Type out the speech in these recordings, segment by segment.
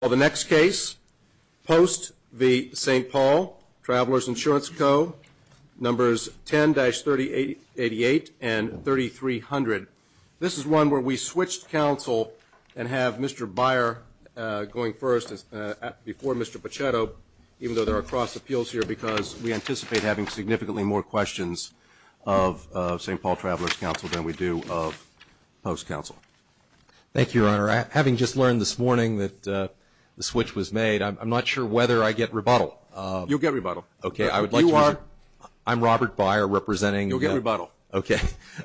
Well, the next case, Post v. St Paul Travelers Insurance Co., numbers 10-388 and 3300. This is one where we switched counsel and have Mr. Byer going first before Mr. Pachetto, even though there are cross appeals here, because we anticipate having significantly more questions of St Paul Travelers Counsel than we do of Post Counsel. Robert Byer Thank you, Your Honor. Having just learned this morning that the switch was made, I'm not sure whether I get rebuttal. Judge Pachetto You'll get rebuttal. Robert Byer Okay. I would like to reserve Judge Pachetto You are Robert Byer I'm Robert Byer representing Judge Pachetto You'll get rebuttal. Robert Byer Okay.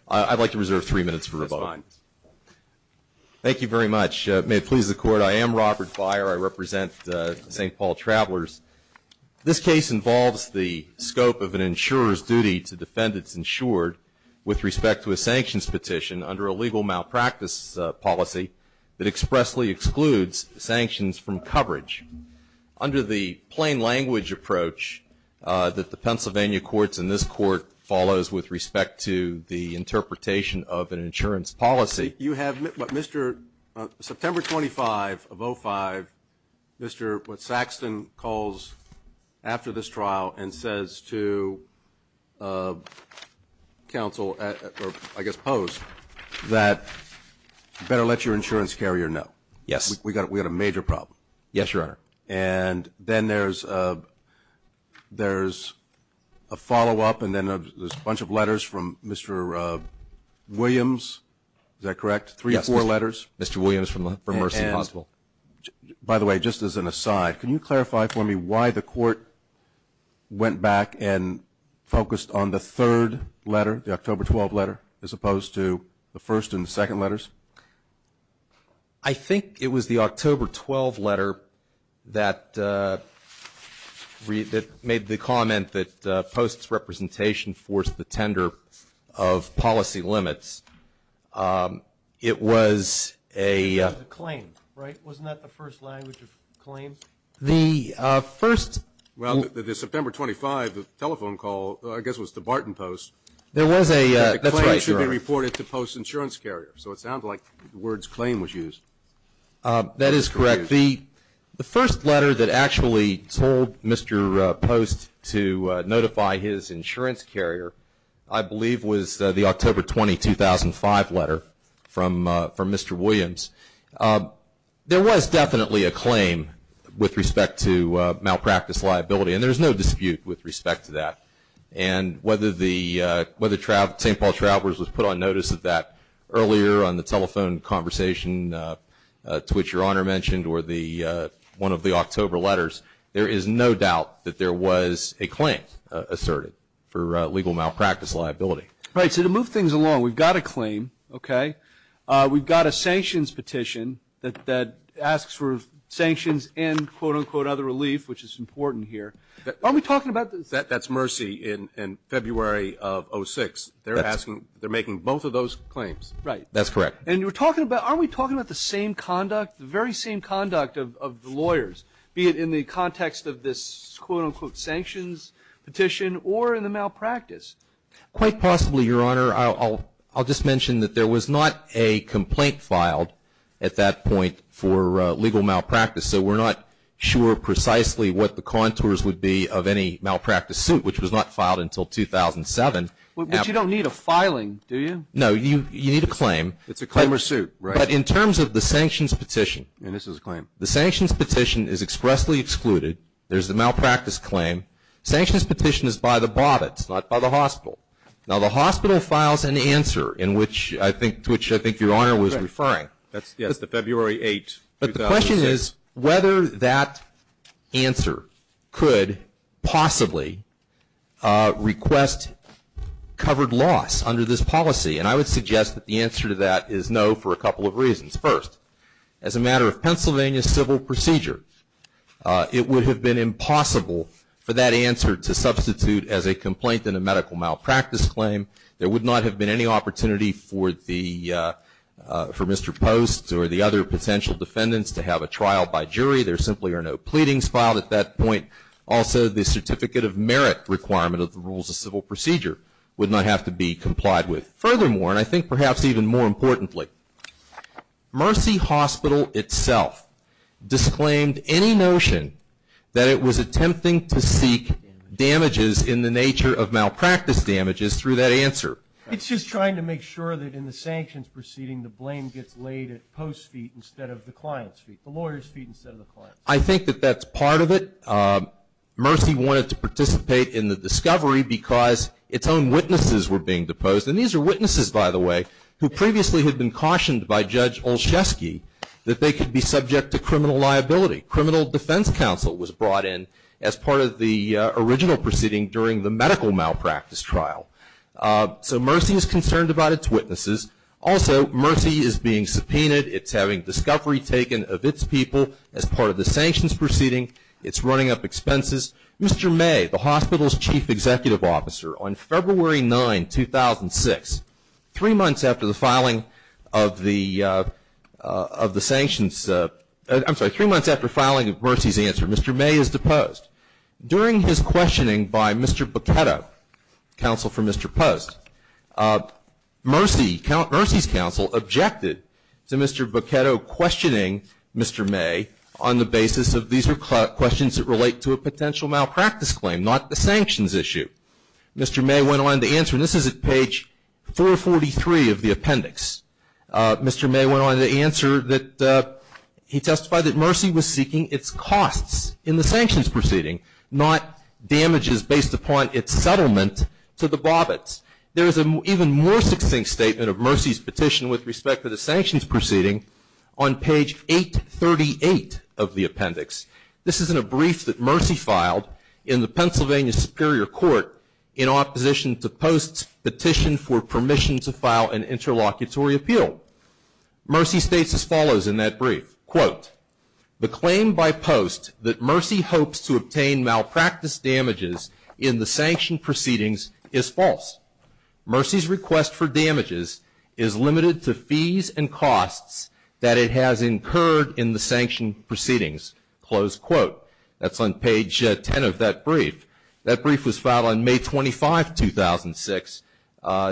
I'd like to reserve three minutes for rebuttal. Judge Pachetto That's fine. Robert Byer Thank you very much. May it please the Court, I am Robert Byer. I represent St Paul Travelers. This case involves the scope of an insurer's with respect to a sanctions petition under a legal malpractice policy that expressly excludes sanctions from coverage. Under the plain language approach that the Pennsylvania Courts and this Court follows with respect to the interpretation of an insurance policy you have what Mr. September 25 of 05, Mr. Saxton calls after this trial and says to counsel or I guess pose that you better let your insurance carrier know. Robert Byer Yes. Judge Pachetto We've got a major problem. Robert Byer Yes, Your Honor. Judge Pachetto And then there's a follow-up and then there's a bunch of letters from Mr. Williams. Is that correct? Three or four letters? Robert Byer Yes. Mr. Williams from Mercy and Hospital. Judge Pachetto And by the way, just as an aside, can you read the letter, the October 12 letter as opposed to the first and the second letters? Robert Byer I think it was the October 12 letter that made the comment that Post's representation forced the tender of policy limits. It was a Judge Pachetto It was a claim, right? Wasn't that the first language of claims? Robert Byer The first Judge Pachetto Well, the September 25 telephone call I guess was to Barton Post. Robert Byer There was a Judge Pachetto The claim should be reported to Post's insurance carrier. So it sounds like the words claim was used. Robert Byer That is correct. The first letter that actually told Mr. Post to notify his insurance carrier, I believe was the October 20, 2005 letter from Mr. Williams. There was definitely a claim with respect to malpractice liability and there is no dispute with respect to that. And whether St. Paul Travelers was put on notice of that earlier on the telephone conversation to which Your Honor mentioned or one of the October letters, there is no doubt that there was a claim asserted for legal malpractice liability. Robert Byer Right. So to move things along, we've got a claim, okay? We've got a sanctions petition that asks for sanctions and quote unquote another relief, which is important here. Are we talking about this? Judge Pachetto That's Mercy in February of 2006. They're asking, they're making both of those claims. Robert Byer Right. Judge Pachetto That's correct. Robert Byer And you're talking about, are we talking about the same conduct, the very same conduct of the lawyers, be it in the context of this quote unquote sanctions petition or in the malpractice? Judge Pachetto Quite possibly, Your Honor. I'll just mention that there was not a complaint filed at that point for legal malpractice. So we're not sure precisely what the contours would be of any malpractice suit, which was not filed Robert Byer But you don't need a filing, do you? Judge Pachetto No, you need a claim. Robert Byer It's a claim or suit, right? Judge Pachetto But in terms of the sanctions petition Robert Byer And this is a claim. Judge Pachetto The sanctions petition is expressly excluded. There's the malpractice claim. Sanctions petition is by the Bobbitts, not by the hospital. Now the hospital files an answer in which I think, to which I think Your Honor was referring. But the question is whether that answer could possibly request covered loss under this policy. And I would suggest that the answer to that is no for a couple of reasons. First, as a matter of Pennsylvania civil procedure, it would have been impossible for that answer to substitute as a complaint in a medical malpractice claim. There would not have been any opportunity for Mr. Post or the other potential defendants to have a trial by jury. There simply are no pleadings filed at that point. Also, the certificate of merit requirement of the rules of civil procedure would not have to be complied with. Furthermore, and I think perhaps even more importantly, Mercy Hospital itself disclaimed any notion that it was attempting to seek damages in the nature of malpractice damages through that answer. It's just trying to make sure that in the sanctions proceeding the blame gets laid at Post's feet instead of the client's feet, the lawyer's feet instead of the client's feet. I think that that's part of it. Mercy wanted to participate in the discovery because its own witnesses were being deposed. And these are witnesses, by the way, who previously had been cautioned by Judge Olszewski that they could be subject to criminal liability. Criminal defense counsel was brought in as part of the original proceeding during the medical malpractice trial. So Mercy is concerned about its witnesses. Also, Mercy is being subpoenaed. It's having discovery taken of its people as part of the sanctions proceeding. It's running up expenses. Mr. May, the hospital's chief executive officer, on February 9, 2006, three months after the filing of Mercy's answer, Mr. May is deposed. During his questioning by Mr. Boqueto, counsel for Mr. Post, Mercy's counsel objected to Mr. Boqueto questioning Mr. May on the basis of these are questions that relate to a potential malpractice claim, not a sanctions issue. Mr. May went on to answer, and this is at page 443 of the appendix. Mr. May went on to answer that he testified that Mercy was seeking its costs in the sanctions proceeding, not damages based upon its settlement to the Bobbitts. There is an even more succinct statement of Mercy's petition with respect to the sanctions proceeding on page 838 of the appendix. This is in a brief that Mercy filed in the Pennsylvania Superior Court in opposition to Post's petition for permission to file an interlocutory appeal. Mercy states as follows in that brief, quote, the claim by Post that Mercy hopes to obtain malpractice damages in the sanction proceedings is false. Mercy's request for damages is limited to fees and costs that it has incurred in the sanction proceedings, close quote. That's on page 10 of that brief. That brief was filed on May 25, 2006,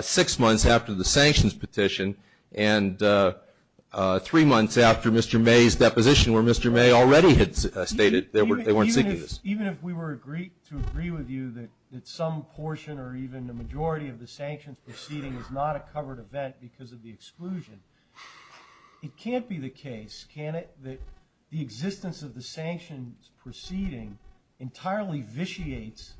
six months after the sanctions petition and three months after Mr. May's deposition where Mr. May already had stated they weren't seeking this. Even if we were to agree with you that some portion or even the majority of the sanctions proceeding is not a covered event because of the exclusion, it can't be the case, can it, that the existence of the sanctions proceeding entirely vitiates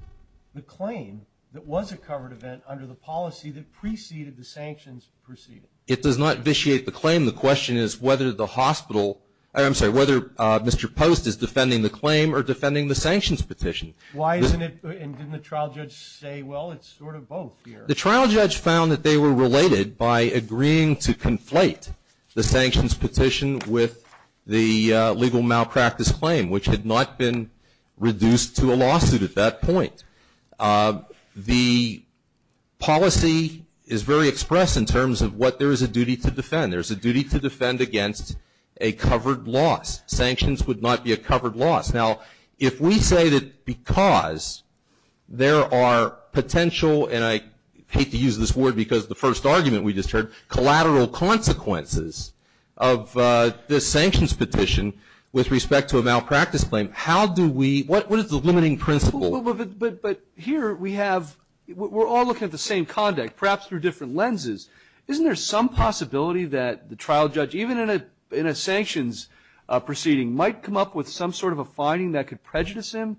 the claim that was a covered event under the policy that preceded the sanctions proceeding? It does not vitiate the claim. The question is whether the hospital, I'm sorry, whether Mr. Post is defending the claim or defending the sanctions petition. Why isn't it, and didn't the trial judge say, well, it's sort of both here? The trial judge found that they were related by agreeing to conflate the sanctions petition with the legal malpractice claim, which had not been reduced to a lawsuit at that point. The policy is very expressed in terms of what there is a duty to defend. There's a duty to defend against a covered loss. Sanctions would not be a covered loss. Now, if we say that because there are potential, and I hate to use this word because of the first argument we just heard, collateral consequences of this sanctions petition with respect to a malpractice claim, how do we, what is the limiting principle? But here we have, we're all looking at the same conduct, perhaps through different lenses. Isn't there some possibility that the trial judge, even in a sanctions proceeding, might come up with some sort of a finding that could prejudice him?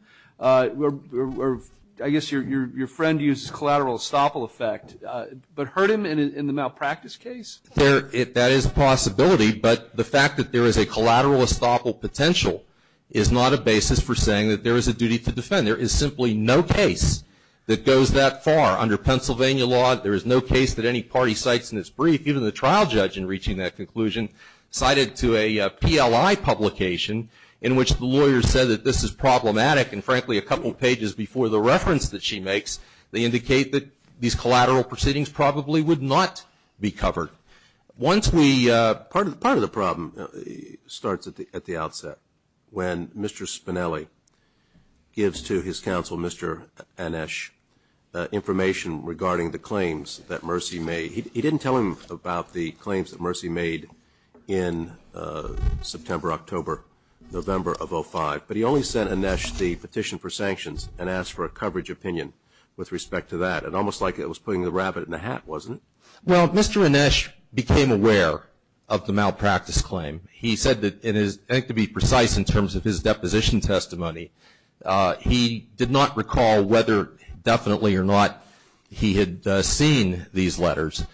I guess your friend uses collateral estoppel effect, but hurt him in the malpractice case? That is a possibility, but the fact that there is a collateral estoppel potential is not a basis for saying that there is a duty to defend. There is simply no case that goes that far. Under Pennsylvania law, there is no case that any party cites in its brief, even the trial judge in reaching that conclusion, cited to a PLI publication, in which the lawyer said that this is problematic, and frankly, a couple of pages before the reference that she makes, they indicate that these collateral proceedings probably would not be covered. Once we, part of the problem starts at the outset, when Mr. Spinelli gives to his counsel, Mr. Anesh, information regarding the claims that Mercy made. He didn't tell him about the claims that Mercy made in September, October, November of 2005, but he only sent Anesh the petition for sanctions and asked for a coverage opinion with respect to that, and almost like it was putting the rabbit in the hat, wasn't it? Well, Mr. Anesh became aware of the malpractice claim. He said that, I think to be precise in terms of his deposition testimony, he did not recall whether definitely or not he had seen these letters,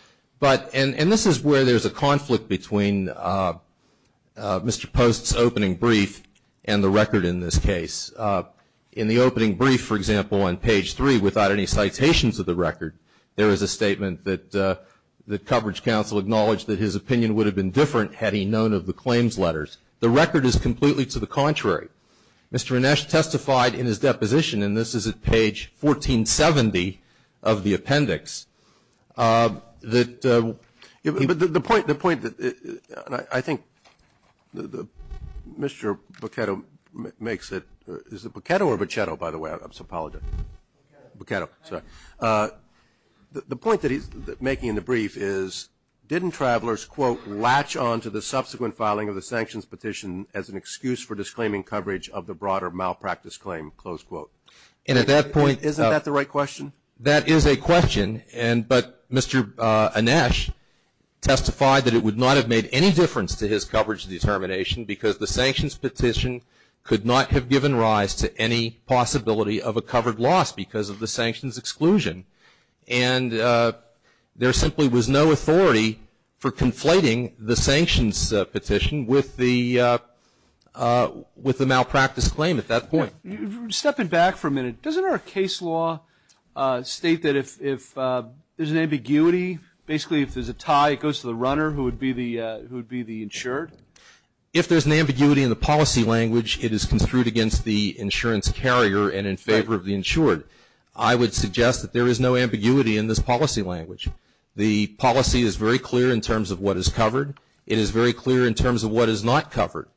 and this is where there's a conflict between Mr. Post's opening brief and the record in this case. In the opening brief, for example, on page three, without any citations of the record, there is a statement that the coverage counsel acknowledged that his opinion would have been different had he known of the claims letters. The record is completely to the contrary. Mr. Anesh testified in his deposition, and this is at page 1470 of the appendix, that he was the point. The point that I think Mr. Boccetto makes it. Is it Boccetto or Bocchetto, by the way? I'm sorry. Boccetto. Boccetto, sorry. The point that he's making in the brief is didn't travelers, quote, filing of the sanctions petition as an excuse for disclaiming coverage of the broader malpractice claim, close quote. And at that point, isn't that the right question? That is a question, but Mr. Anesh testified that it would not have made any difference to his coverage determination because the sanctions petition could not have given rise to any possibility of a covered loss because of the sanctions exclusion. And there simply was no authority for conflating the sanctions petition with the malpractice claim at that point. Stepping back for a minute, doesn't our case law state that if there's an ambiguity, basically if there's a tie it goes to the runner who would be the insured? If there's an ambiguity in the policy language, it is construed against the insurance carrier and in favor of the insured. I would suggest that there is no ambiguity in this policy language. The policy is very clear in terms of what is covered. It is very clear in terms of what is not covered.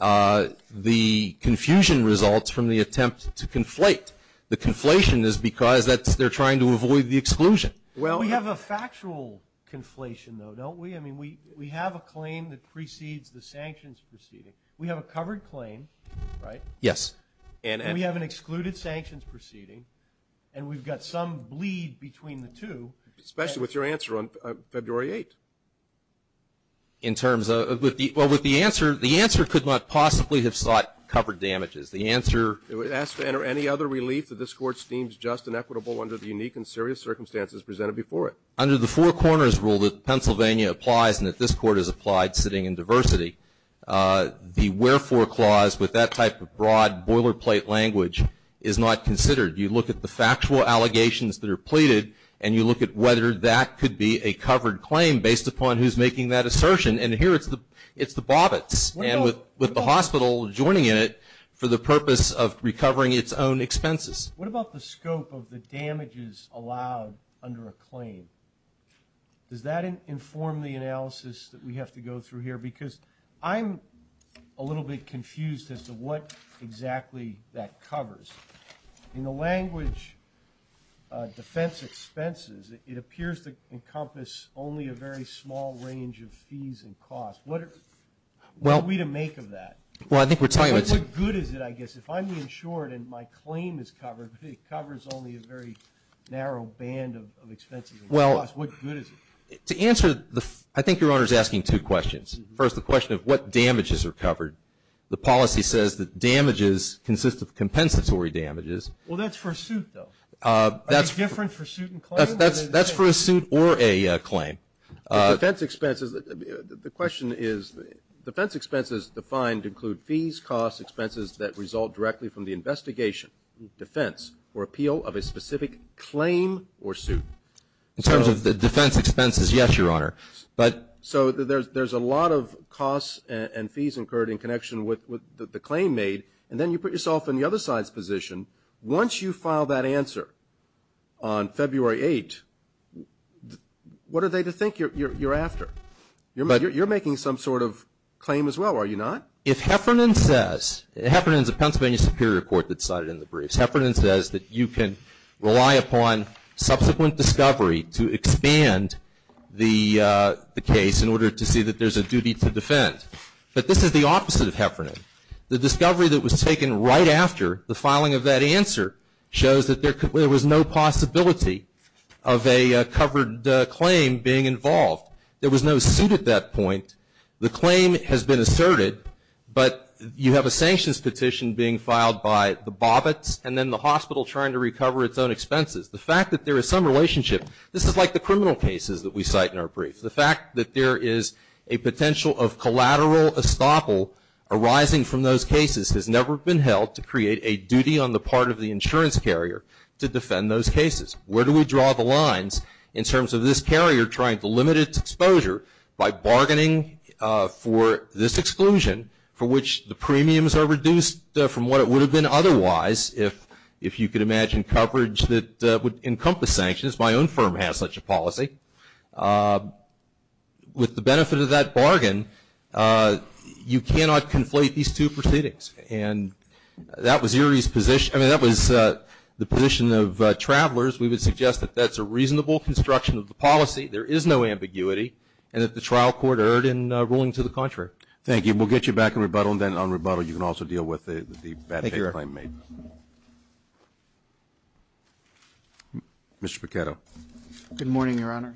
The confusion results from the attempt to conflate. The conflation is because they're trying to avoid the exclusion. Well, we have a factual conflation, though, don't we? I mean, we have a claim that precedes the sanctions proceeding. We have a covered claim, right? Yes. And we have an excluded sanctions proceeding, and we've got some bleed between the two. Especially with your answer on February 8th. Well, with the answer, the answer could not possibly have sought covered damages. The answer. It would ask to enter any other relief that this Court deems just and equitable under the unique and serious circumstances presented before it. Under the four corners rule that Pennsylvania applies and that this Court has applied sitting in diversity, the wherefore clause with that type of broad boilerplate language is not considered. You look at the factual allegations that are pleaded, and you look at whether that could be a covered claim based upon who's making that assertion. And here it's the Bobbitts and with the hospital joining in it for the purpose of recovering its own expenses. What about the scope of the damages allowed under a claim? Does that inform the analysis that we have to go through here? Because I'm a little bit confused as to what exactly that covers. In the language defense expenses, it appears to encompass only a very small range of fees and costs. What are we to make of that? Well, I think we're talking about. What good is it, I guess, if I'm insured and my claim is covered, but it covers only a very narrow band of expenses and costs, what good is it? To answer, I think Your Honor is asking two questions. First, the question of what damages are covered. The policy says that damages consist of compensatory damages. Well, that's for a suit, though. Are they different for suit and claim? That's for a suit or a claim. Defense expenses, the question is, defense expenses defined include fees, costs, expenses that result directly from the investigation, defense, or appeal of a specific claim or suit. In terms of the defense expenses, yes, Your Honor. So there's a lot of costs and fees incurred in connection with the claim made, and then you put yourself in the other side's position. Once you file that answer on February 8th, what are they to think you're after? You're making some sort of claim as well, are you not? If Heffernan says, Heffernan is a Pennsylvania Superior Court that sided in the briefs. If Heffernan says that you can rely upon subsequent discovery to expand the case in order to see that there's a duty to defend. But this is the opposite of Heffernan. The discovery that was taken right after the filing of that answer shows that there was no possibility of a covered claim being involved. There was no suit at that point. The claim has been asserted, but you have a sanctions petition being filed by the Bobbitts and then the hospital trying to recover its own expenses. The fact that there is some relationship, this is like the criminal cases that we cite in our briefs. The fact that there is a potential of collateral estoppel arising from those cases has never been held to create a duty on the part of the insurance carrier to defend those cases. Where do we draw the lines in terms of this carrier trying to limit its exposure by bargaining for this exclusion for which the premiums are reduced from what it would have been otherwise if you could imagine coverage that would encompass sanctions. My own firm has such a policy. With the benefit of that bargain, you cannot conflate these two proceedings. And that was Erie's position. I mean, that was the position of travelers. We would suggest that that's a reasonable construction of the policy. There is no ambiguity and that the trial court erred in ruling to the contrary. Thank you. We'll get you back in rebuttal and then on rebuttal you can also deal with the bad claim made. Thank you, Your Honor. Mr. Pichetto. Good morning, Your Honor.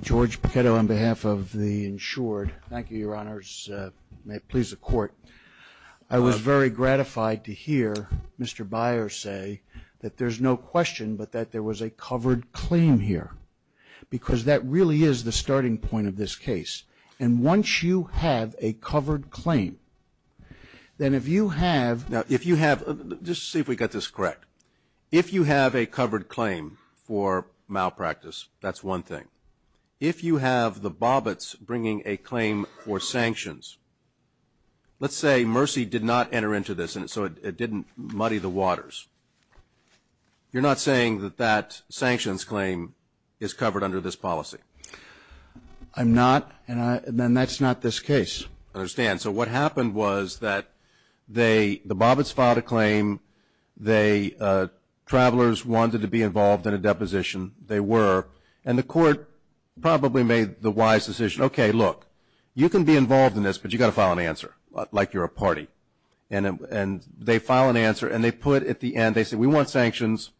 George Pichetto on behalf of the insured. Thank you, Your Honors. May it please the Court. I was very gratified to hear Mr. Byers say that there's no question but that there was a covered claim here. Because that really is the starting point of this case. And once you have a covered claim, then if you have now if you have just see if we got this correct. If you have a covered claim for malpractice, that's one thing. If you have the Bobbitts bringing a claim for sanctions, let's say Mercy did not enter into this and so it didn't muddy the waters. You're not saying that that sanctions claim is covered under this policy? I'm not and that's not this case. I understand. So what happened was that the Bobbitts filed a claim. Travelers wanted to be involved in a deposition. They were. And the Court probably made the wise decision, okay, look, you can be involved in this, but you've got to file an answer like you're a party. And they file an answer and they put at the end, they said, we want sanctions.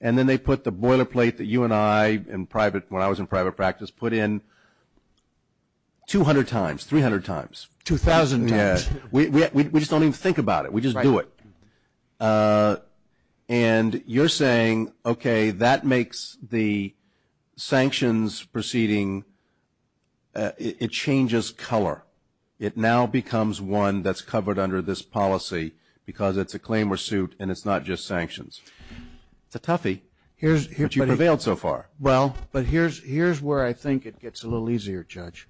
And then they put the boilerplate that you and I in private when I was in private practice put in 200 times, 300 times. 2,000 times. We just don't even think about it. We just do it. And you're saying, okay, that makes the sanctions proceeding, it changes color. It now becomes one that's covered under this policy because it's a claim or suit and it's not just sanctions. It's a toughie, but you've prevailed so far. Well, but here's where I think it gets a little easier, Judge.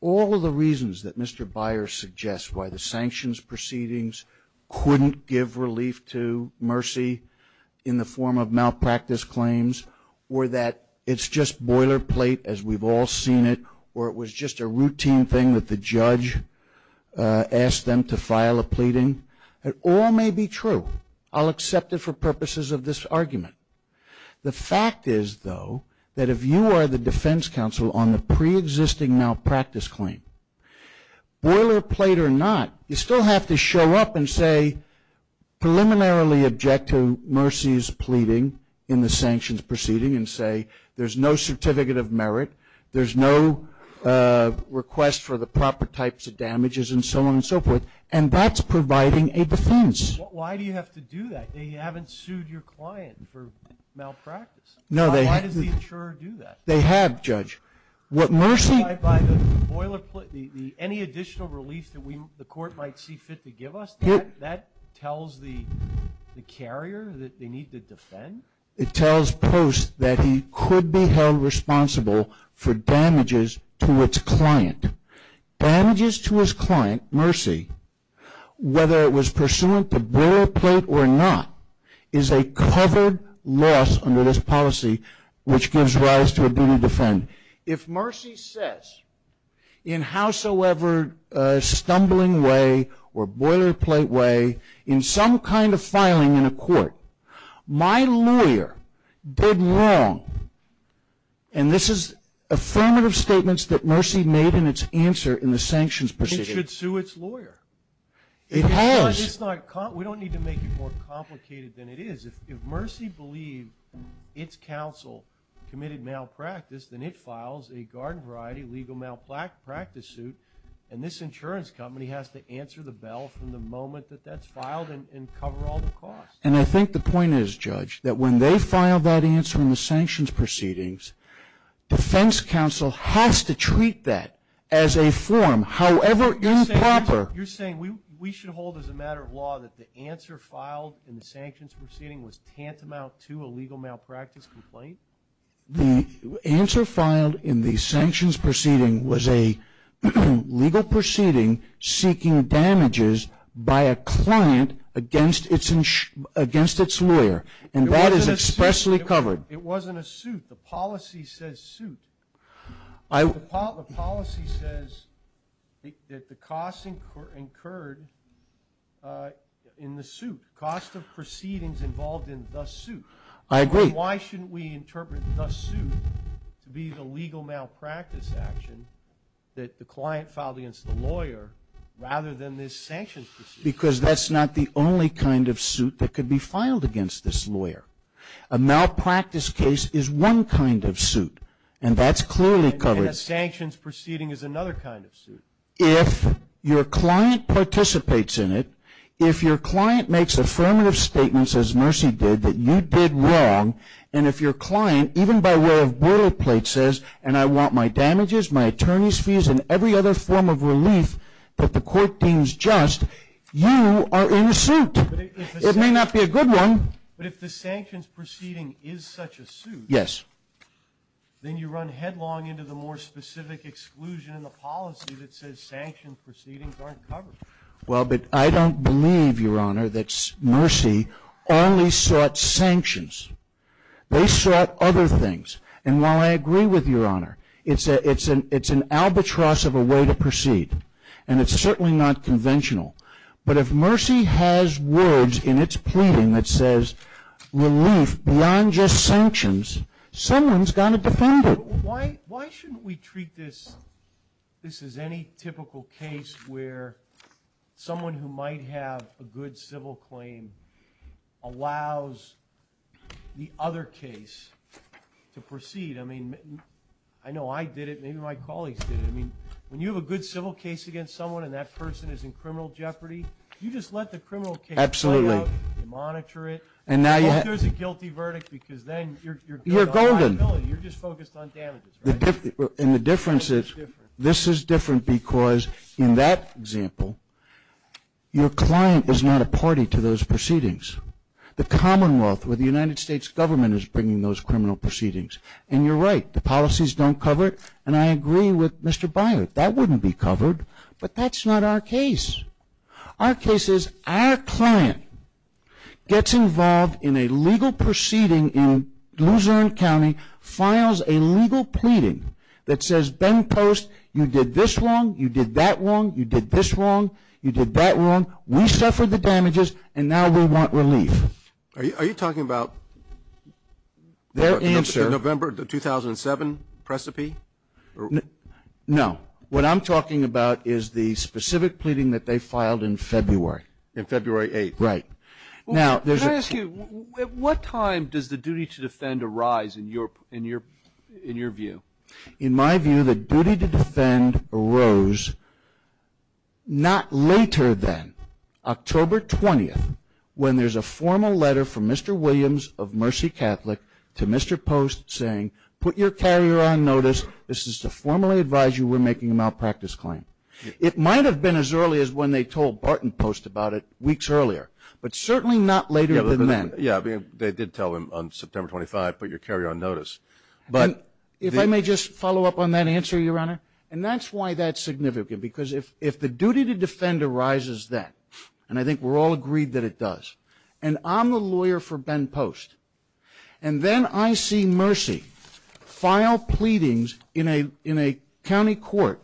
All the reasons that Mr. Byers suggests why the sanctions proceedings couldn't give relief to Mercy in the form of malpractice claims or that it's just boilerplate as we've all seen it or it was just a routine thing that the judge asked them to file a pleading, it all may be true. I'll accept it for purposes of this argument. The fact is, though, that if you are the defense counsel on the preexisting malpractice claim, boilerplate or not, you still have to show up and say preliminarily objective Mercy's pleading in the sanctions proceeding and say there's no certificate of merit, there's no request for the proper types of damages and so on and so forth, and that's providing a defense. Why do you have to do that? You haven't sued your client for malpractice. No, they haven't. Why does the insurer do that? They have, Judge. What Mercy... By the boilerplate, any additional relief that the court might see fit to give us, that tells the carrier that they need to defend? It tells Post that he could be held responsible for damages to its client. Damages to its client, Mercy, whether it was pursuant to boilerplate or not, is a covered loss under this policy which gives rise to a duty to defend. If Mercy says in howsoever stumbling way or boilerplate way in some kind of filing in a court, my lawyer did wrong, and this is affirmative statements that Mercy made in its answer in the sanctions proceeding. It should sue its lawyer. It has. We don't need to make it more complicated than it is. If Mercy believed its counsel committed malpractice, then it files a garden variety legal malpractice suit, and this insurance company has to answer the bell from the moment that that's filed and cover all the costs. And I think the point is, Judge, that when they file that answer in the sanctions proceedings, defense counsel has to treat that as a form. However improper... You're saying we should hold as a matter of law that the answer filed in the sanctions proceeding was tantamount to a legal malpractice complaint? The answer filed in the sanctions proceeding was a legal proceeding seeking damages by a client against its lawyer, and that is expressly covered. It wasn't a suit. The policy says suit. The policy says that the costs incurred in the suit, cost of proceedings involved in the suit. I agree. Why shouldn't we interpret the suit to be the legal malpractice action that the client filed against the lawyer rather than this sanctions proceeding? Just because that's not the only kind of suit that could be filed against this lawyer. A malpractice case is one kind of suit, and that's clearly covered. And a sanctions proceeding is another kind of suit. If your client participates in it, if your client makes affirmative statements, as Mercy did, that you did wrong, and if your client, even by way of boilerplate, says, and I want my damages, my attorney's fees, and every other form of relief that the court deems just, you are in a suit. It may not be a good one. But if the sanctions proceeding is such a suit, then you run headlong into the more specific exclusion in the policy that says sanctions proceedings aren't covered. Well, but I don't believe, Your Honor, that Mercy only sought sanctions. They sought other things. And while I agree with Your Honor, it's an albatross of a way to proceed, and it's certainly not conventional. But if Mercy has words in its pleading that says relief beyond just sanctions, someone's got to defend it. Why shouldn't we treat this as any typical case where someone who might have a good civil claim allows the other case to proceed? I mean, I know I did it. Maybe my colleagues did it. I mean, when you have a good civil case against someone and that person is in criminal jeopardy, you just let the criminal case play out. Absolutely. You monitor it. And now you have to. But there's a guilty verdict because then you're getting liability. You're golden. You're just focused on damages, right? And the difference is this is different because, in that example, your client is not a party to those proceedings. The Commonwealth or the United States government is bringing those criminal proceedings. And you're right. The policies don't cover it. And I agree with Mr. Byard. That wouldn't be covered. But that's not our case. Our case is our client gets involved in a legal proceeding in Luzerne County, files a legal pleading that says, Ben Post, you did this wrong. You did that wrong. You did this wrong. You did that wrong. We suffered the damages, and now we want relief. Are you talking about the November 2007 precipice? No. What I'm talking about is the specific pleading that they filed in February. In February 8th. Right. Can I ask you, at what time does the duty to defend arise in your view? In my view, the duty to defend arose not later than October 20th, when there's a formal letter from Mr. Williams of Mercy Catholic to Mr. Post saying, put your carrier on notice. This is to formally advise you we're making a malpractice claim. It might have been as early as when they told Barton Post about it weeks earlier, but certainly not later than then. Yeah, they did tell him on September 25th, put your carrier on notice. If I may just follow up on that answer, Your Honor, and that's why that's significant, because if the duty to defend arises then, and I think we're all agreed that it does, and I'm the lawyer for Ben Post, and then I see Mercy file pleadings in a county court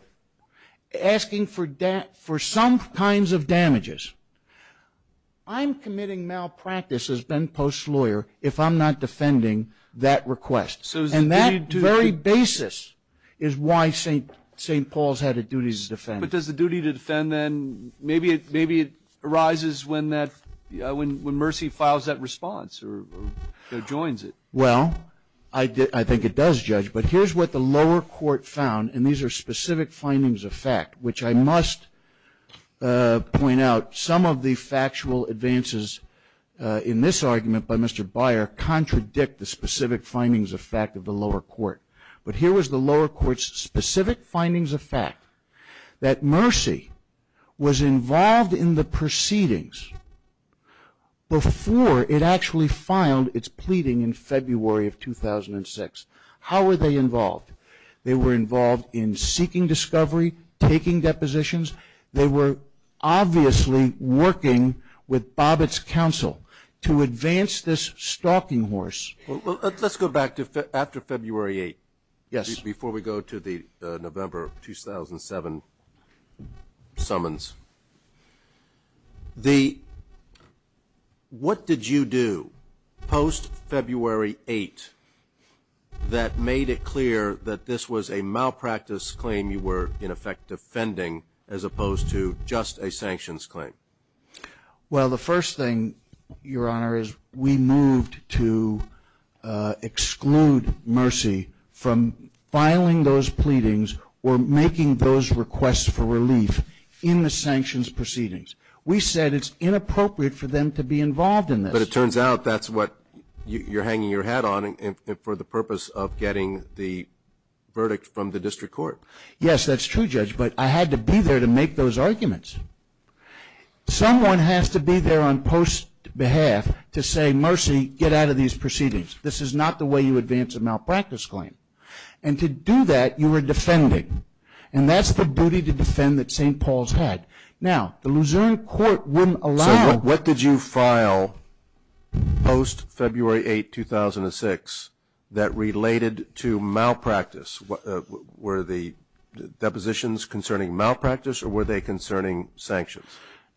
asking for some kinds of damages, I'm committing malpractice as Ben Post's lawyer if I'm not defending that request. And that very basis is why St. Paul's had a duty to defend. But does the duty to defend then, maybe it arises when Mercy files that response or joins it? Well, I think it does, Judge, but here's what the lower court found, and these are specific findings of fact, which I must point out, some of the factual advances in this argument by Mr. Byer contradict the specific findings of fact of the lower court. But here was the lower court's specific findings of fact, that Mercy was involved in the proceedings before it actually filed its pleading in February of 2006. How were they involved? They were involved in seeking discovery, taking depositions. They were obviously working with Bobbitt's counsel to advance this stalking horse. Let's go back to after February 8th. Yes. Before we go to the November 2007 summons. What did you do post-February 8th that made it clear that this was a malpractice claim you were, in effect, defending as opposed to just a sanctions claim? Well, the first thing, Your Honor, is we moved to exclude Mercy from filing those pleadings or making those requests for relief in the sanctions proceedings. We said it's inappropriate for them to be involved in this. But it turns out that's what you're hanging your hat on for the purpose of getting the verdict from the district court. Yes, that's true, Judge, but I had to be there to make those arguments. Someone has to be there on post's behalf to say, Mercy, get out of these proceedings. This is not the way you advance a malpractice claim. And to do that, you were defending. And that's the booty to defend that St. Paul's had. Now, the Luzerne Court wouldn't allow- So what did you file post-February 8th, 2006 that related to malpractice? Were the depositions concerning malpractice or were they concerning sanctions?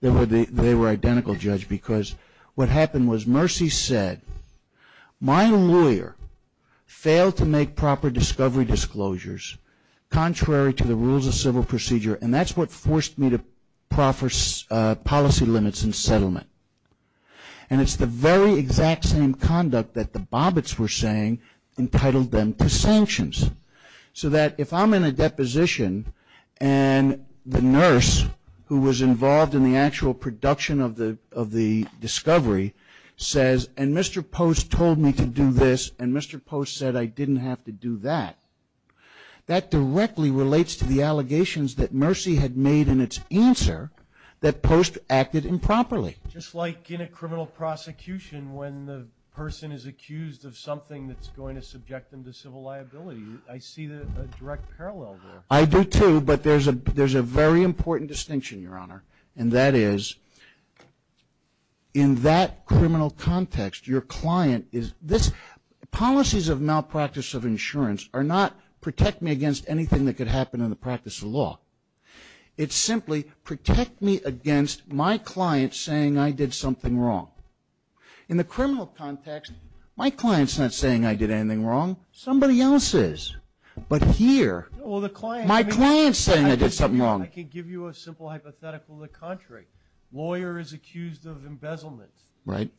They were identical, Judge, because what happened was Mercy said, My lawyer failed to make proper discovery disclosures contrary to the rules of civil procedure, and that's what forced me to proffer policy limits and settlement. And it's the very exact same conduct that the Bobbitts were saying entitled them to sanctions. So that if I'm in a deposition and the nurse who was involved in the actual production of the discovery says, And Mr. Post told me to do this, and Mr. Post said I didn't have to do that, that directly relates to the allegations that Mercy had made in its answer that post acted improperly. Just like in a criminal prosecution when the person is accused of something that's going to subject them to civil liability. I see a direct parallel there. I do too, but there's a very important distinction, Your Honor, and that is in that criminal context, your client is, policies of malpractice of insurance are not protect me against anything that could happen in the practice of law. It's simply protect me against my client saying I did something wrong. In the criminal context, my client's not saying I did anything wrong. Somebody else is. But here, my client's saying I did something wrong. I can give you a simple hypothetical of the contrary. Lawyer is accused of embezzlement. Right.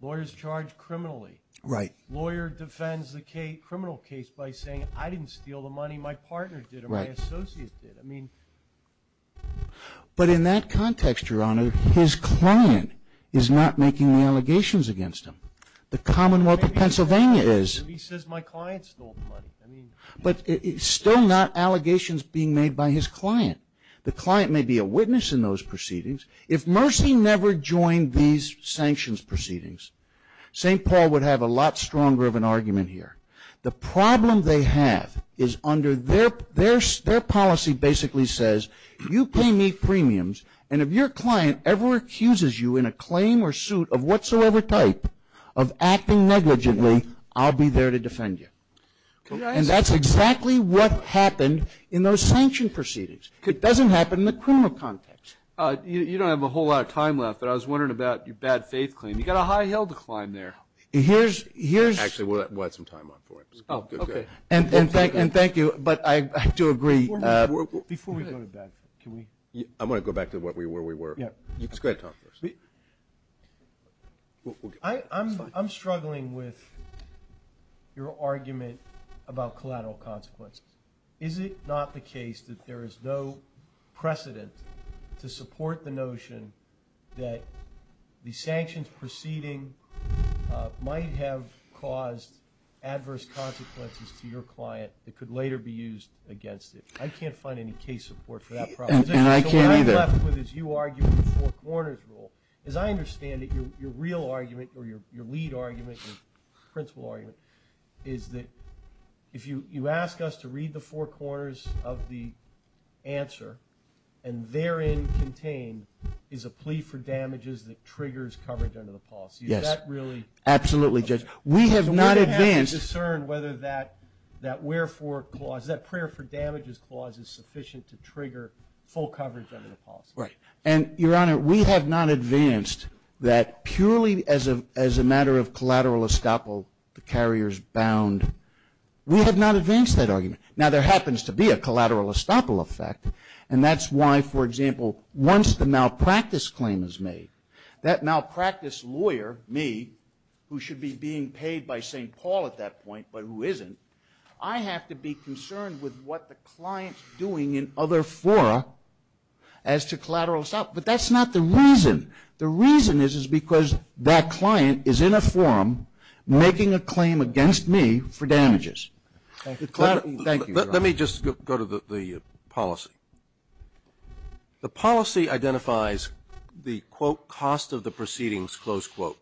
Lawyer's charged criminally. Right. Lawyer defends the criminal case by saying I didn't steal the money, my partner did or my associate did. I mean. But in that context, Your Honor, his client is not making the allegations against him. The Commonwealth of Pennsylvania is. He says my client stole the money. But it's still not allegations being made by his client. The client may be a witness in those proceedings. If Mercy never joined these sanctions proceedings, St. Paul would have a lot stronger of an argument here. The problem they have is under their policy basically says you pay me premiums and if your client ever accuses you in a claim or suit of whatsoever type of acting negligently, I'll be there to defend you. And that's exactly what happened in those sanction proceedings. It doesn't happen in the criminal context. You don't have a whole lot of time left, but I was wondering about your bad faith claim. You've got a high hill to climb there. Here's. Actually, we'll add some time on for him. Oh, okay. And thank you, but I do agree. Before we go to bad faith, can we. I want to go back to where we were. Let's go ahead and talk first. I'm struggling with your argument about collateral consequences. Is it not the case that there is no precedent to support the notion that the sanctions proceeding might have caused adverse consequences to your client that could later be used against it? I can't find any case support for that proposition. And I can't either. What I'm struggling with is you arguing the four corners rule. As I understand it, your real argument or your lead argument, your principle argument, is that if you ask us to read the four corners of the answer, and therein contained, is a plea for damages that triggers coverage under the policy. Yes. Is that really. Absolutely, Judge. We have not advanced. Do we have to discern whether that wherefore clause, that prayer for damages clause, is sufficient to trigger full coverage under the policy? Right. And, Your Honor, we have not advanced that purely as a matter of collateral estoppel, the carriers bound. We have not advanced that argument. Now, there happens to be a collateral estoppel effect. And that's why, for example, once the malpractice claim is made, that malpractice lawyer, me, who should be being paid by St. Paul at that point, but who isn't, I have to be concerned with what the client's doing in other fora as to collateral estoppel. But that's not the reason. The reason is, is because that client is in a forum making a claim against me for damages. Thank you. Let me just go to the policy. The policy identifies the, quote, cost of the proceedings, close quote,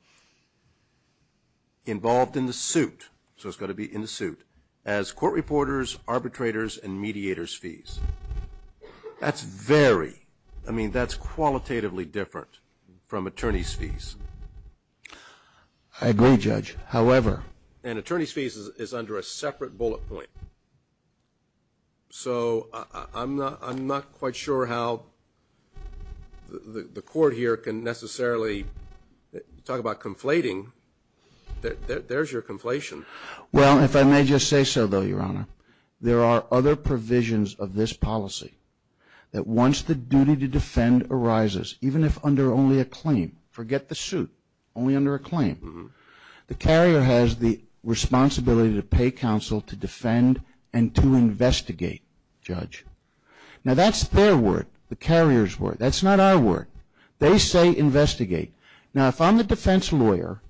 involved in the suit. So it's got to be in the suit. As court reporters, arbitrators, and mediators fees. That's very, I mean, that's qualitatively different from attorney's fees. I agree, Judge. However. And attorney's fees is under a separate bullet point. So I'm not quite sure how the court here can necessarily talk about conflating. There's your conflation. Well, if I may just say so, though, Your Honor. There are other provisions of this policy that once the duty to defend arises, even if under only a claim. Forget the suit. Only under a claim. The carrier has the responsibility to pay counsel to defend and to investigate, Judge. Now that's their word. The carrier's word. That's not our word. They say investigate. Now if I'm the defense lawyer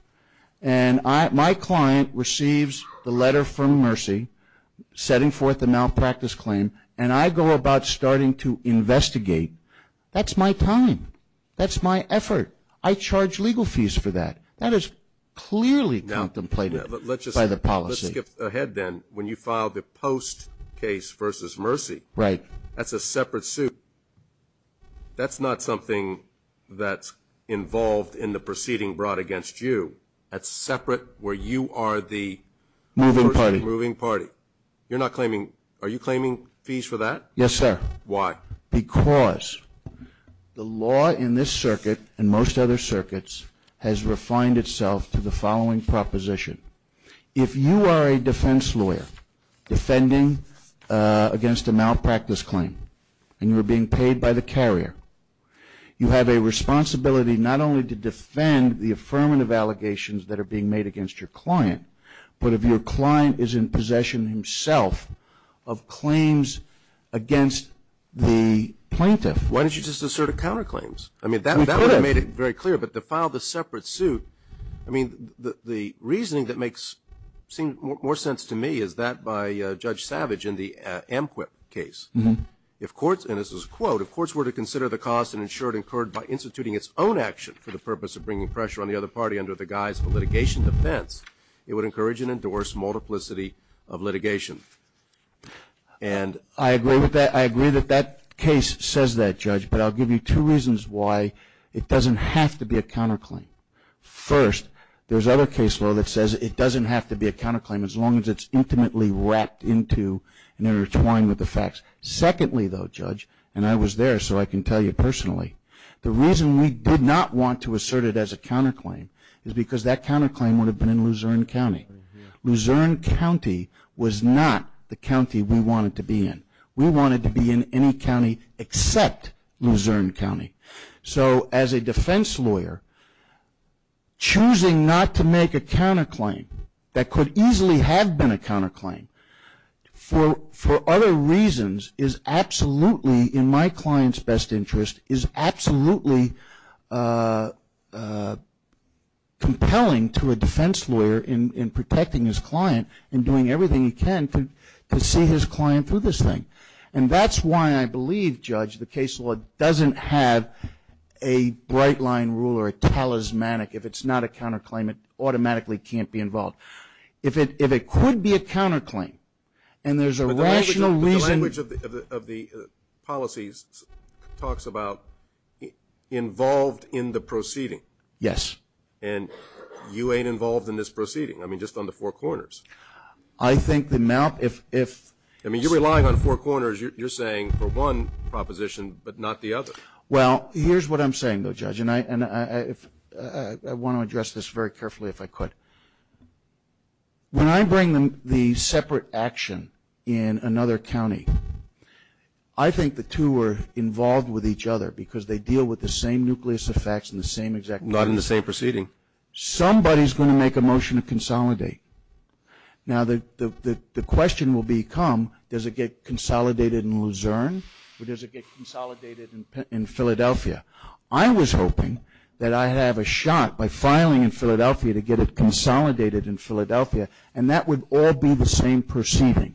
and my client receives the letter from Mercy setting forth a malpractice claim and I go about starting to investigate, that's my time. That's my effort. I charge legal fees for that. That is clearly contemplated by the policy. Let's skip ahead then. When you file the post case versus Mercy, that's a separate suit. That's not something that's involved in the proceeding brought against you. That's separate where you are the moving party. Are you claiming fees for that? Yes, sir. Why? Because the law in this circuit and most other circuits has refined itself to the following proposition. If you are a defense lawyer defending against a malpractice claim and you are being paid by the carrier, you have a responsibility not only to defend the affirmative allegations that are being made against your client, but if your client is in possession himself of claims against the plaintiff. Why don't you just assert a counterclaims? I mean, that would have made it very clear, but to file the separate suit, I mean, the reasoning that makes more sense to me is that by Judge Savage in the Amquip case. If courts, and this is a quote, if courts were to consider the cost and ensure it occurred by instituting its own action for the purpose of bringing pressure on the other party under the guise of litigation defense, it would encourage and endorse multiplicity of litigation. And I agree with that. I agree that that case says that, Judge, but I'll give you two reasons why it doesn't have to be a counterclaim. First, there's other case law that says it doesn't have to be a counterclaim as long as it's intimately wrapped into and intertwined with the facts. Secondly, though, Judge, and I was there so I can tell you personally, the reason we did not want to assert it as a counterclaim is because that counterclaim would have been in Luzerne County. Luzerne County was not the county we wanted to be in. We wanted to be in any county except Luzerne County. So as a defense lawyer, choosing not to make a counterclaim that could easily have been a counterclaim for other reasons is absolutely, in my client's best interest, is absolutely compelling to a defense lawyer in protecting his client and doing everything he can to see his client through this thing. And that's why I believe, Judge, the case law doesn't have a bright-line rule or a talismanic. If it's not a counterclaim, it automatically can't be involved. If it could be a counterclaim and there's a rational reason. But the language of the policies talks about involved in the proceeding. Yes. And you ain't involved in this proceeding? I mean, just on the four corners? I think the amount, if ‑‑ I mean, you're relying on four corners. You're saying for one proposition but not the other. Well, here's what I'm saying, though, Judge, and I want to address this very carefully if I could. When I bring the separate action in another county, I think the two are involved with each other because they deal with the same nucleus effects and the same exact ‑‑ Not in the same proceeding. Somebody is going to make a motion to consolidate. Now, the question will become, does it get consolidated in Luzerne or does it get consolidated in Philadelphia? I was hoping that I have a shot by filing in Philadelphia to get it consolidated in Philadelphia, and that would all be the same proceeding.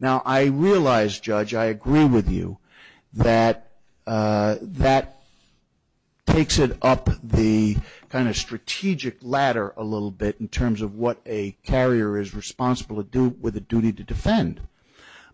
Now, I realize, Judge, I agree with you that that takes it up the kind of strategic ladder a little bit in terms of what a carrier is responsible to do with a duty to defend.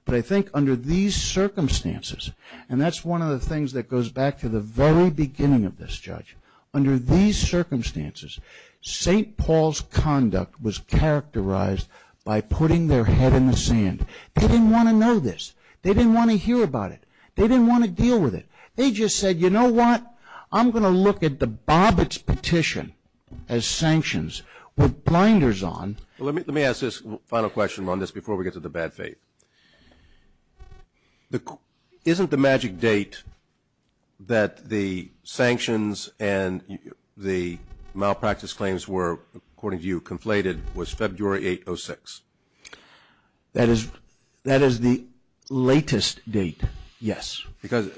But I think under these circumstances, and that's one of the things that goes back to the very beginning of this, Judge, under these circumstances, St. Paul's conduct was characterized by putting their head in the sand. They didn't want to know this. They didn't want to hear about it. They didn't want to deal with it. They just said, you know what, I'm going to look at the Bobbitt's petition as sanctions with blinders on. Let me ask this final question on this before we get to the bad faith. Isn't the magic date that the sanctions and the malpractice claims were, according to you, conflated was February 8, 06? That is the latest date, yes. Because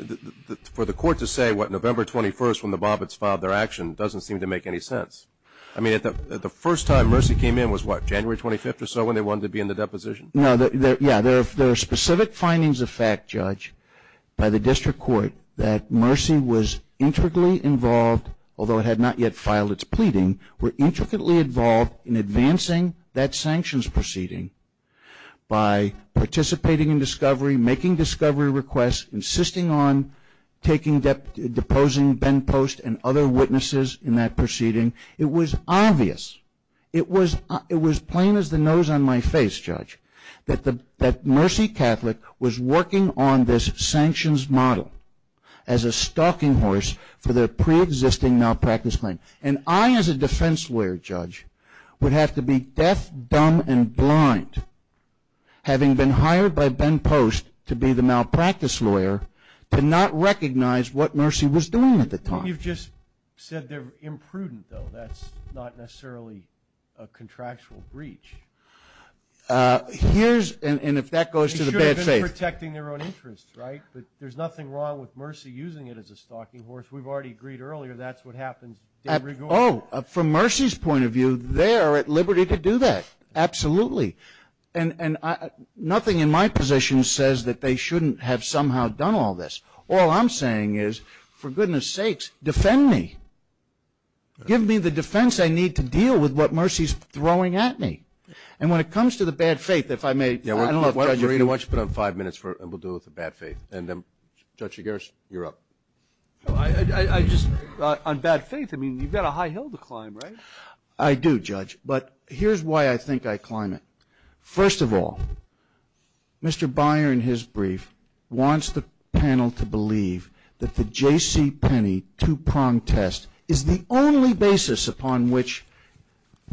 for the court to say what, November 21st, when the Bobbitt's filed their action, doesn't seem to make any sense. I mean, the first time Mercy came in was what, January 25th or so when they wanted to be in the deposition? Yeah. There are specific findings of fact, Judge, by the district court that Mercy was intricately involved, although it had not yet filed its pleading, were intricately involved in advancing that sanctions proceeding by participating in discovery, making discovery requests, insisting on deposing Ben Post and other witnesses in that proceeding. It was obvious. It was plain as the nose on my face, Judge, that Mercy Catholic was working on this sanctions model as a stalking horse for their preexisting malpractice claim. And I, as a defense lawyer, Judge, would have to be deaf, dumb, and blind, having been hired by Ben Post to be the malpractice lawyer, to not recognize what Mercy was doing at the time. You've just said they're imprudent, though. That's not necessarily a contractual breach. Here's, and if that goes to the bad faith. They should have been protecting their own interests, right? But there's nothing wrong with Mercy using it as a stalking horse. We've already agreed earlier that's what happens. Oh, from Mercy's point of view, they are at liberty to do that. Absolutely. And nothing in my position says that they shouldn't have somehow done all this. All I'm saying is, for goodness sakes, defend me. Give me the defense I need to deal with what Mercy's throwing at me. And when it comes to the bad faith, if I may, I don't know if Judge. Why don't you put on five minutes, and we'll deal with the bad faith. And, Judge, you're up. On bad faith, I mean, you've got a high hill to climb, right? I do, Judge. But here's why I think I climb it. First of all, Mr. Byer, in his brief, wants the panel to believe that the J.C. Penney two-pronged test is the only basis upon which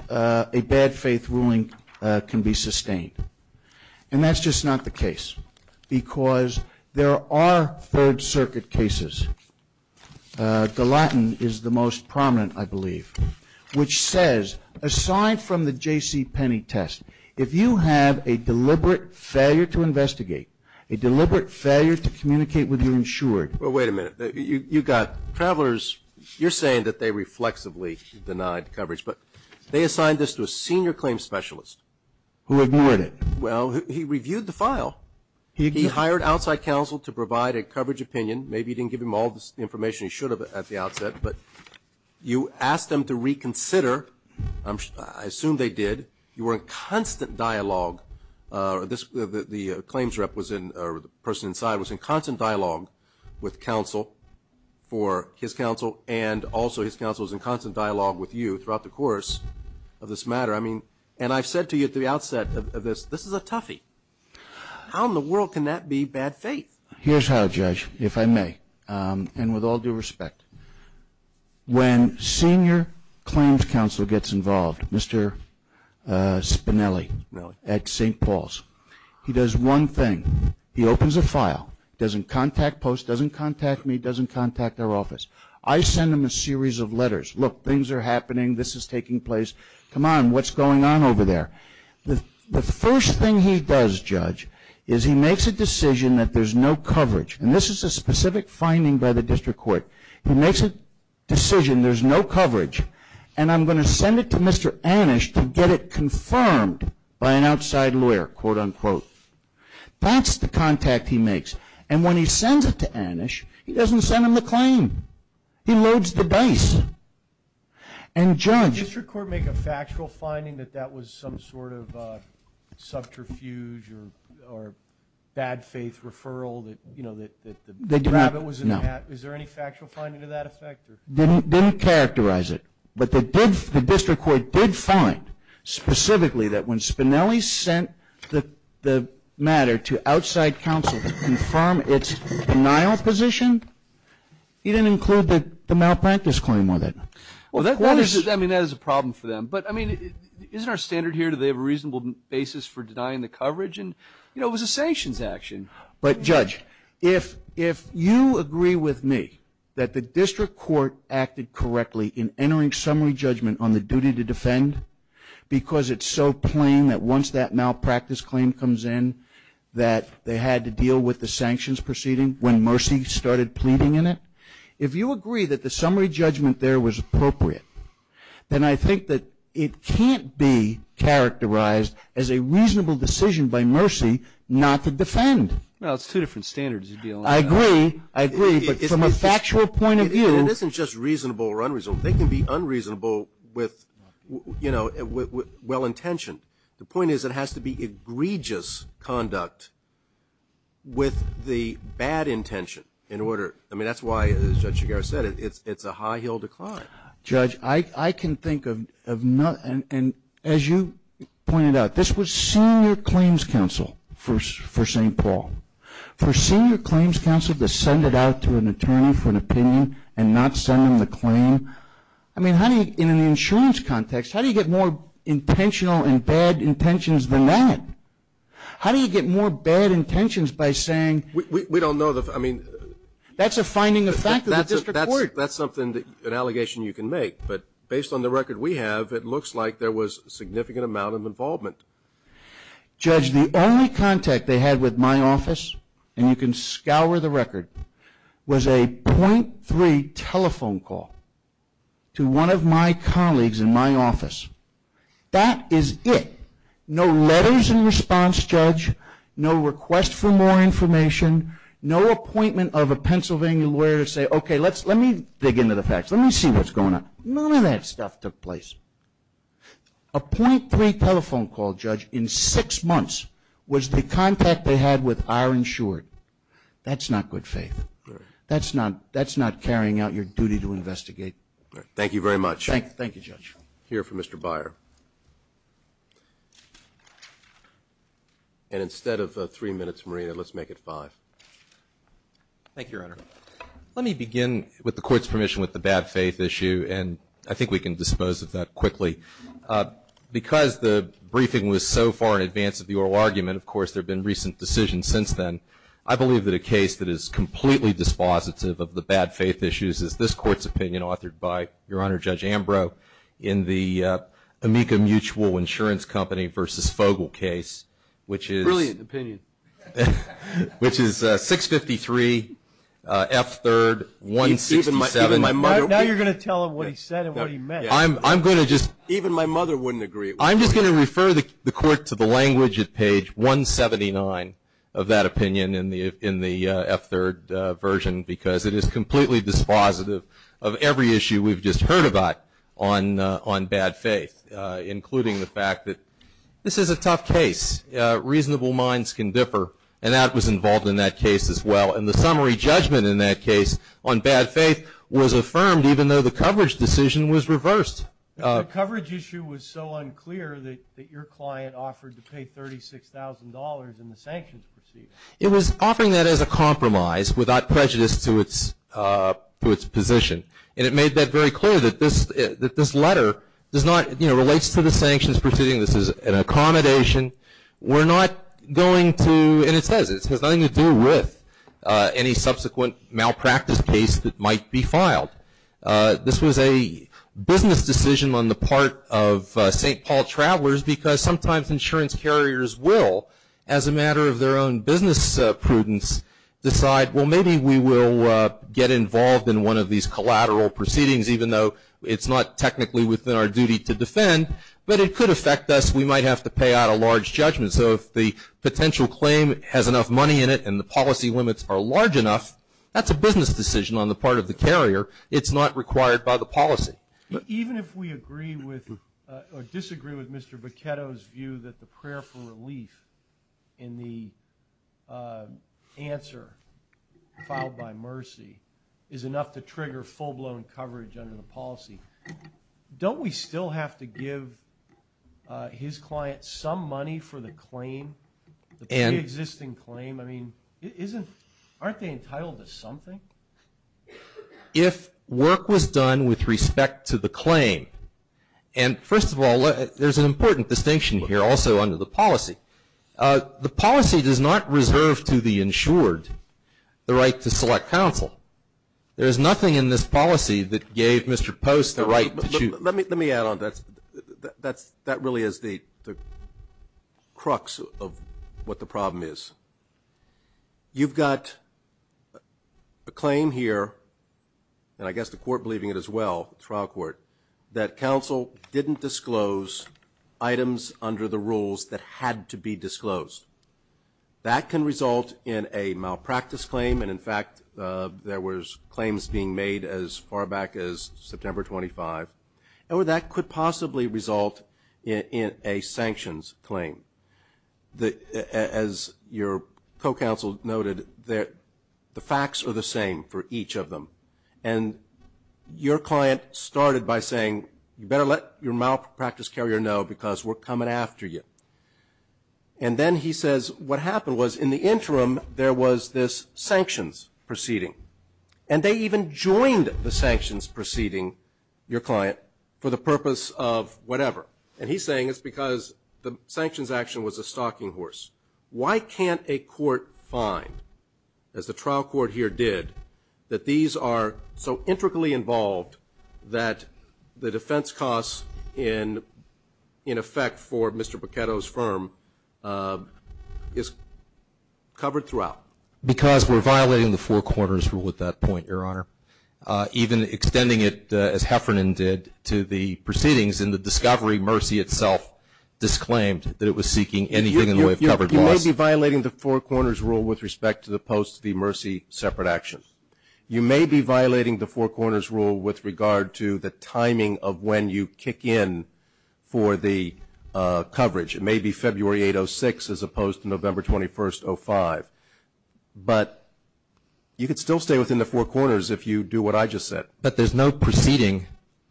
a bad faith ruling can be sustained. And that's just not the case, because there are Third Circuit cases. Which says, aside from the J.C. Penney test, if you have a deliberate failure to investigate, a deliberate failure to communicate with your insured. Well, wait a minute. You've got travelers. You're saying that they reflexively denied coverage. But they assigned this to a senior claim specialist. Who ignored it. Well, he reviewed the file. He hired outside counsel to provide a coverage opinion. Maybe he didn't give him all the information he should have at the outset. But you asked them to reconsider. I assume they did. You were in constant dialogue. The claims rep was in, or the person inside, was in constant dialogue with counsel for his counsel. And also his counsel was in constant dialogue with you throughout the course of this matter. And I've said to you at the outset of this, this is a toughie. How in the world can that be bad faith? Here's how, Judge, if I may. And with all due respect, when senior claims counsel gets involved, Mr. Spinelli at St. Paul's, he does one thing. He opens a file. Doesn't contact post, doesn't contact me, doesn't contact our office. I send him a series of letters. Look, things are happening. This is taking place. Come on, what's going on over there? The first thing he does, Judge, is he makes a decision that there's no coverage. And this is a specific finding by the district court. He makes a decision, there's no coverage, and I'm going to send it to Mr. Anish to get it confirmed by an outside lawyer, quote, unquote. That's the contact he makes. And when he sends it to Anish, he doesn't send him the claim. He loads the dice. And, Judge. Did the district court make a factual finding that that was some sort of Is there any factual finding to that effect? Didn't characterize it. But the district court did find specifically that when Spinelli sent the matter to outside counsel to confirm its denial position, he didn't include the malpractice claim with it. Well, that is a problem for them. But, I mean, isn't our standard here, do they have a reasonable basis for denying the coverage? And, you know, it was a sanctions action. But, Judge, if you agree with me that the district court acted correctly in entering summary judgment on the duty to defend because it's so plain that once that malpractice claim comes in that they had to deal with the sanctions proceeding when Mercy started pleading in it, if you agree that the summary judgment there was appropriate, then I think that it can't be characterized as a reasonable decision by Mercy not to defend. Well, it's two different standards you're dealing with. I agree. I agree. But from a factual point of view. It isn't just reasonable or unreasonable. They can be unreasonable with, you know, well-intentioned. The point is it has to be egregious conduct with the bad intention in order. I mean, that's why, as Judge Chigarro said, it's a high-heeled decline. Judge, I can think of nothing. And as you pointed out, this was senior claims counsel for St. Paul. For senior claims counsel to send it out to an attorney for an opinion and not send them the claim, I mean, in an insurance context, how do you get more intentional and bad intentions than that? How do you get more bad intentions by saying we don't know the – I mean. That's a finding of fact of the district court. That's something, an allegation you can make. But based on the record we have, it looks like there was a significant amount of involvement. Judge, the only contact they had with my office, and you can scour the record, was a .3 telephone call to one of my colleagues in my office. That is it. No letters in response, Judge. No request for more information. No appointment of a Pennsylvania lawyer to say, okay, let me dig into the facts. Let me see what's going on. None of that stuff took place. A .3 telephone call, Judge, in six months was the contact they had with our insured. That's not good faith. That's not carrying out your duty to investigate. Thank you very much. Thank you, Judge. Here for Mr. Beyer. And instead of three minutes, Marina, let's make it five. Thank you, Your Honor. Let me begin, with the Court's permission, with the bad faith issue, and I think we can dispose of that quickly. Because the briefing was so far in advance of the oral argument, of course, there have been recent decisions since then. I believe that a case that is completely dispositive of the bad faith issues is this Court's opinion, authored by Your Honor, Judge Ambrose, in the Amica Mutual Insurance Company v. Fogel case, which is 653, F-3rd, 167. Now you're going to tell him what he said and what he meant. I'm going to just. Even my mother wouldn't agree. I'm just going to refer the Court to the language at page 179 of that opinion in the F-3rd version, because it is completely dispositive of every issue we've just heard about on bad faith, including the fact that this is a tough case. Reasonable minds can differ, and that was involved in that case as well. And the summary judgment in that case on bad faith was affirmed, even though the coverage decision was reversed. The coverage issue was so unclear that your client offered to pay $36,000 in the sanctions proceeding. It was offering that as a compromise without prejudice to its position, and it made that very clear that this letter relates to the sanctions proceeding. This is an accommodation. We're not going to, and it says it has nothing to do with any subsequent malpractice case that might be filed. This was a business decision on the part of St. Paul travelers, because sometimes insurance carriers will, as a matter of their own business prudence, decide, well, maybe we will get involved in one of these collateral proceedings, even though it's not technically within our duty to defend, but it could affect us. We might have to pay out a large judgment. So if the potential claim has enough money in it and the policy limits are large enough, that's a business decision on the part of the carrier. It's not required by the policy. Even if we agree with or disagree with Mr. Boccetto's view that the prayer for relief in the answer filed by Mercy is enough to trigger full-blown coverage under the policy, don't we still have to give his client some money for the claim, the pre-existing claim? I mean, aren't they entitled to something? If work was done with respect to the claim, and first of all, there's an important distinction here also under the policy. The policy does not reserve to the insured the right to select counsel. There is nothing in this policy that gave Mr. Post the right to choose. Let me add on. That really is the crux of what the problem is. You've got a claim here, and I guess the court believing it as well, trial court, that counsel didn't disclose items under the rules that had to be disclosed. That can result in a malpractice claim. And, in fact, there were claims being made as far back as September 25. Or that could possibly result in a sanctions claim. As your co-counsel noted, the facts are the same for each of them. And your client started by saying, you better let your malpractice carrier know because we're coming after you. And then he says what happened was in the interim, there was this sanctions proceeding. And they even joined the sanctions proceeding, your client, for the purpose of whatever. And he's saying it's because the sanctions action was a stalking horse. Why can't a court find, as the trial court here did, that these are so intricately involved that the defense costs in effect for Mr. Boccetto's firm is covered throughout? Because we're violating the Four Corners Rule at that point, your Honor. Even extending it as Heffernan did to the proceedings in the discovery, Mercy itself disclaimed that it was seeking anything in the way of covered loss. You may be violating the Four Corners Rule with respect to the post of the Mercy separate action. You may be violating the Four Corners Rule with regard to the timing of when you kick in for the coverage. It may be February 8, 06, as opposed to November 21, 05. But you could still stay within the Four Corners if you do what I just said. But there's no proceeding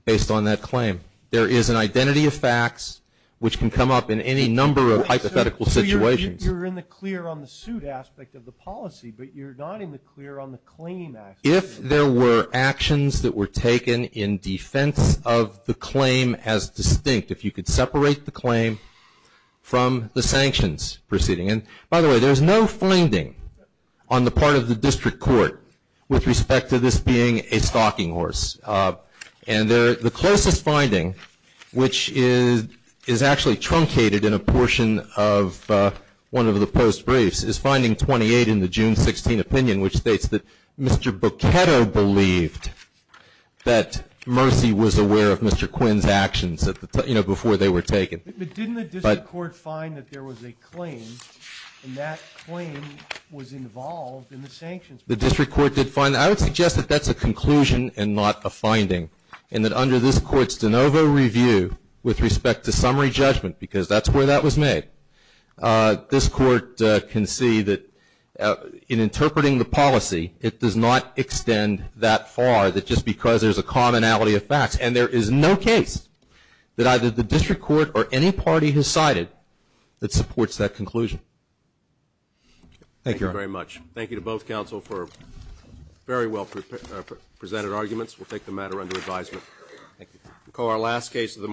based on that claim. There is an identity of facts which can come up in any number of hypothetical situations. You're in the clear on the suit aspect of the policy, but you're not in the clear on the claim aspect. If there were actions that were taken in defense of the claim as distinct, if you could separate the claim from the sanctions proceeding. And, by the way, there's no finding on the part of the district court with respect to this being a stalking horse. And the closest finding, which is actually truncated in a portion of one of the post briefs, is finding 28 in the June 16 opinion, which states that Mr. Boccetto believed that Mercy was aware of Mr. Quinn's actions, you know, before they were taken. But didn't the district court find that there was a claim, and that claim was involved in the sanctions proceeding? The district court did find that. I would suggest that that's a conclusion and not a finding. And that under this court's de novo review with respect to summary judgment, because that's where that was made, this court can see that in interpreting the policy it does not extend that far, that just because there's a commonality of facts. And there is no case that either the district court or any party has cited that supports that conclusion. Thank you very much. Thank you to both counsel for very well presented arguments. We'll take the matter under advisement. Thank you.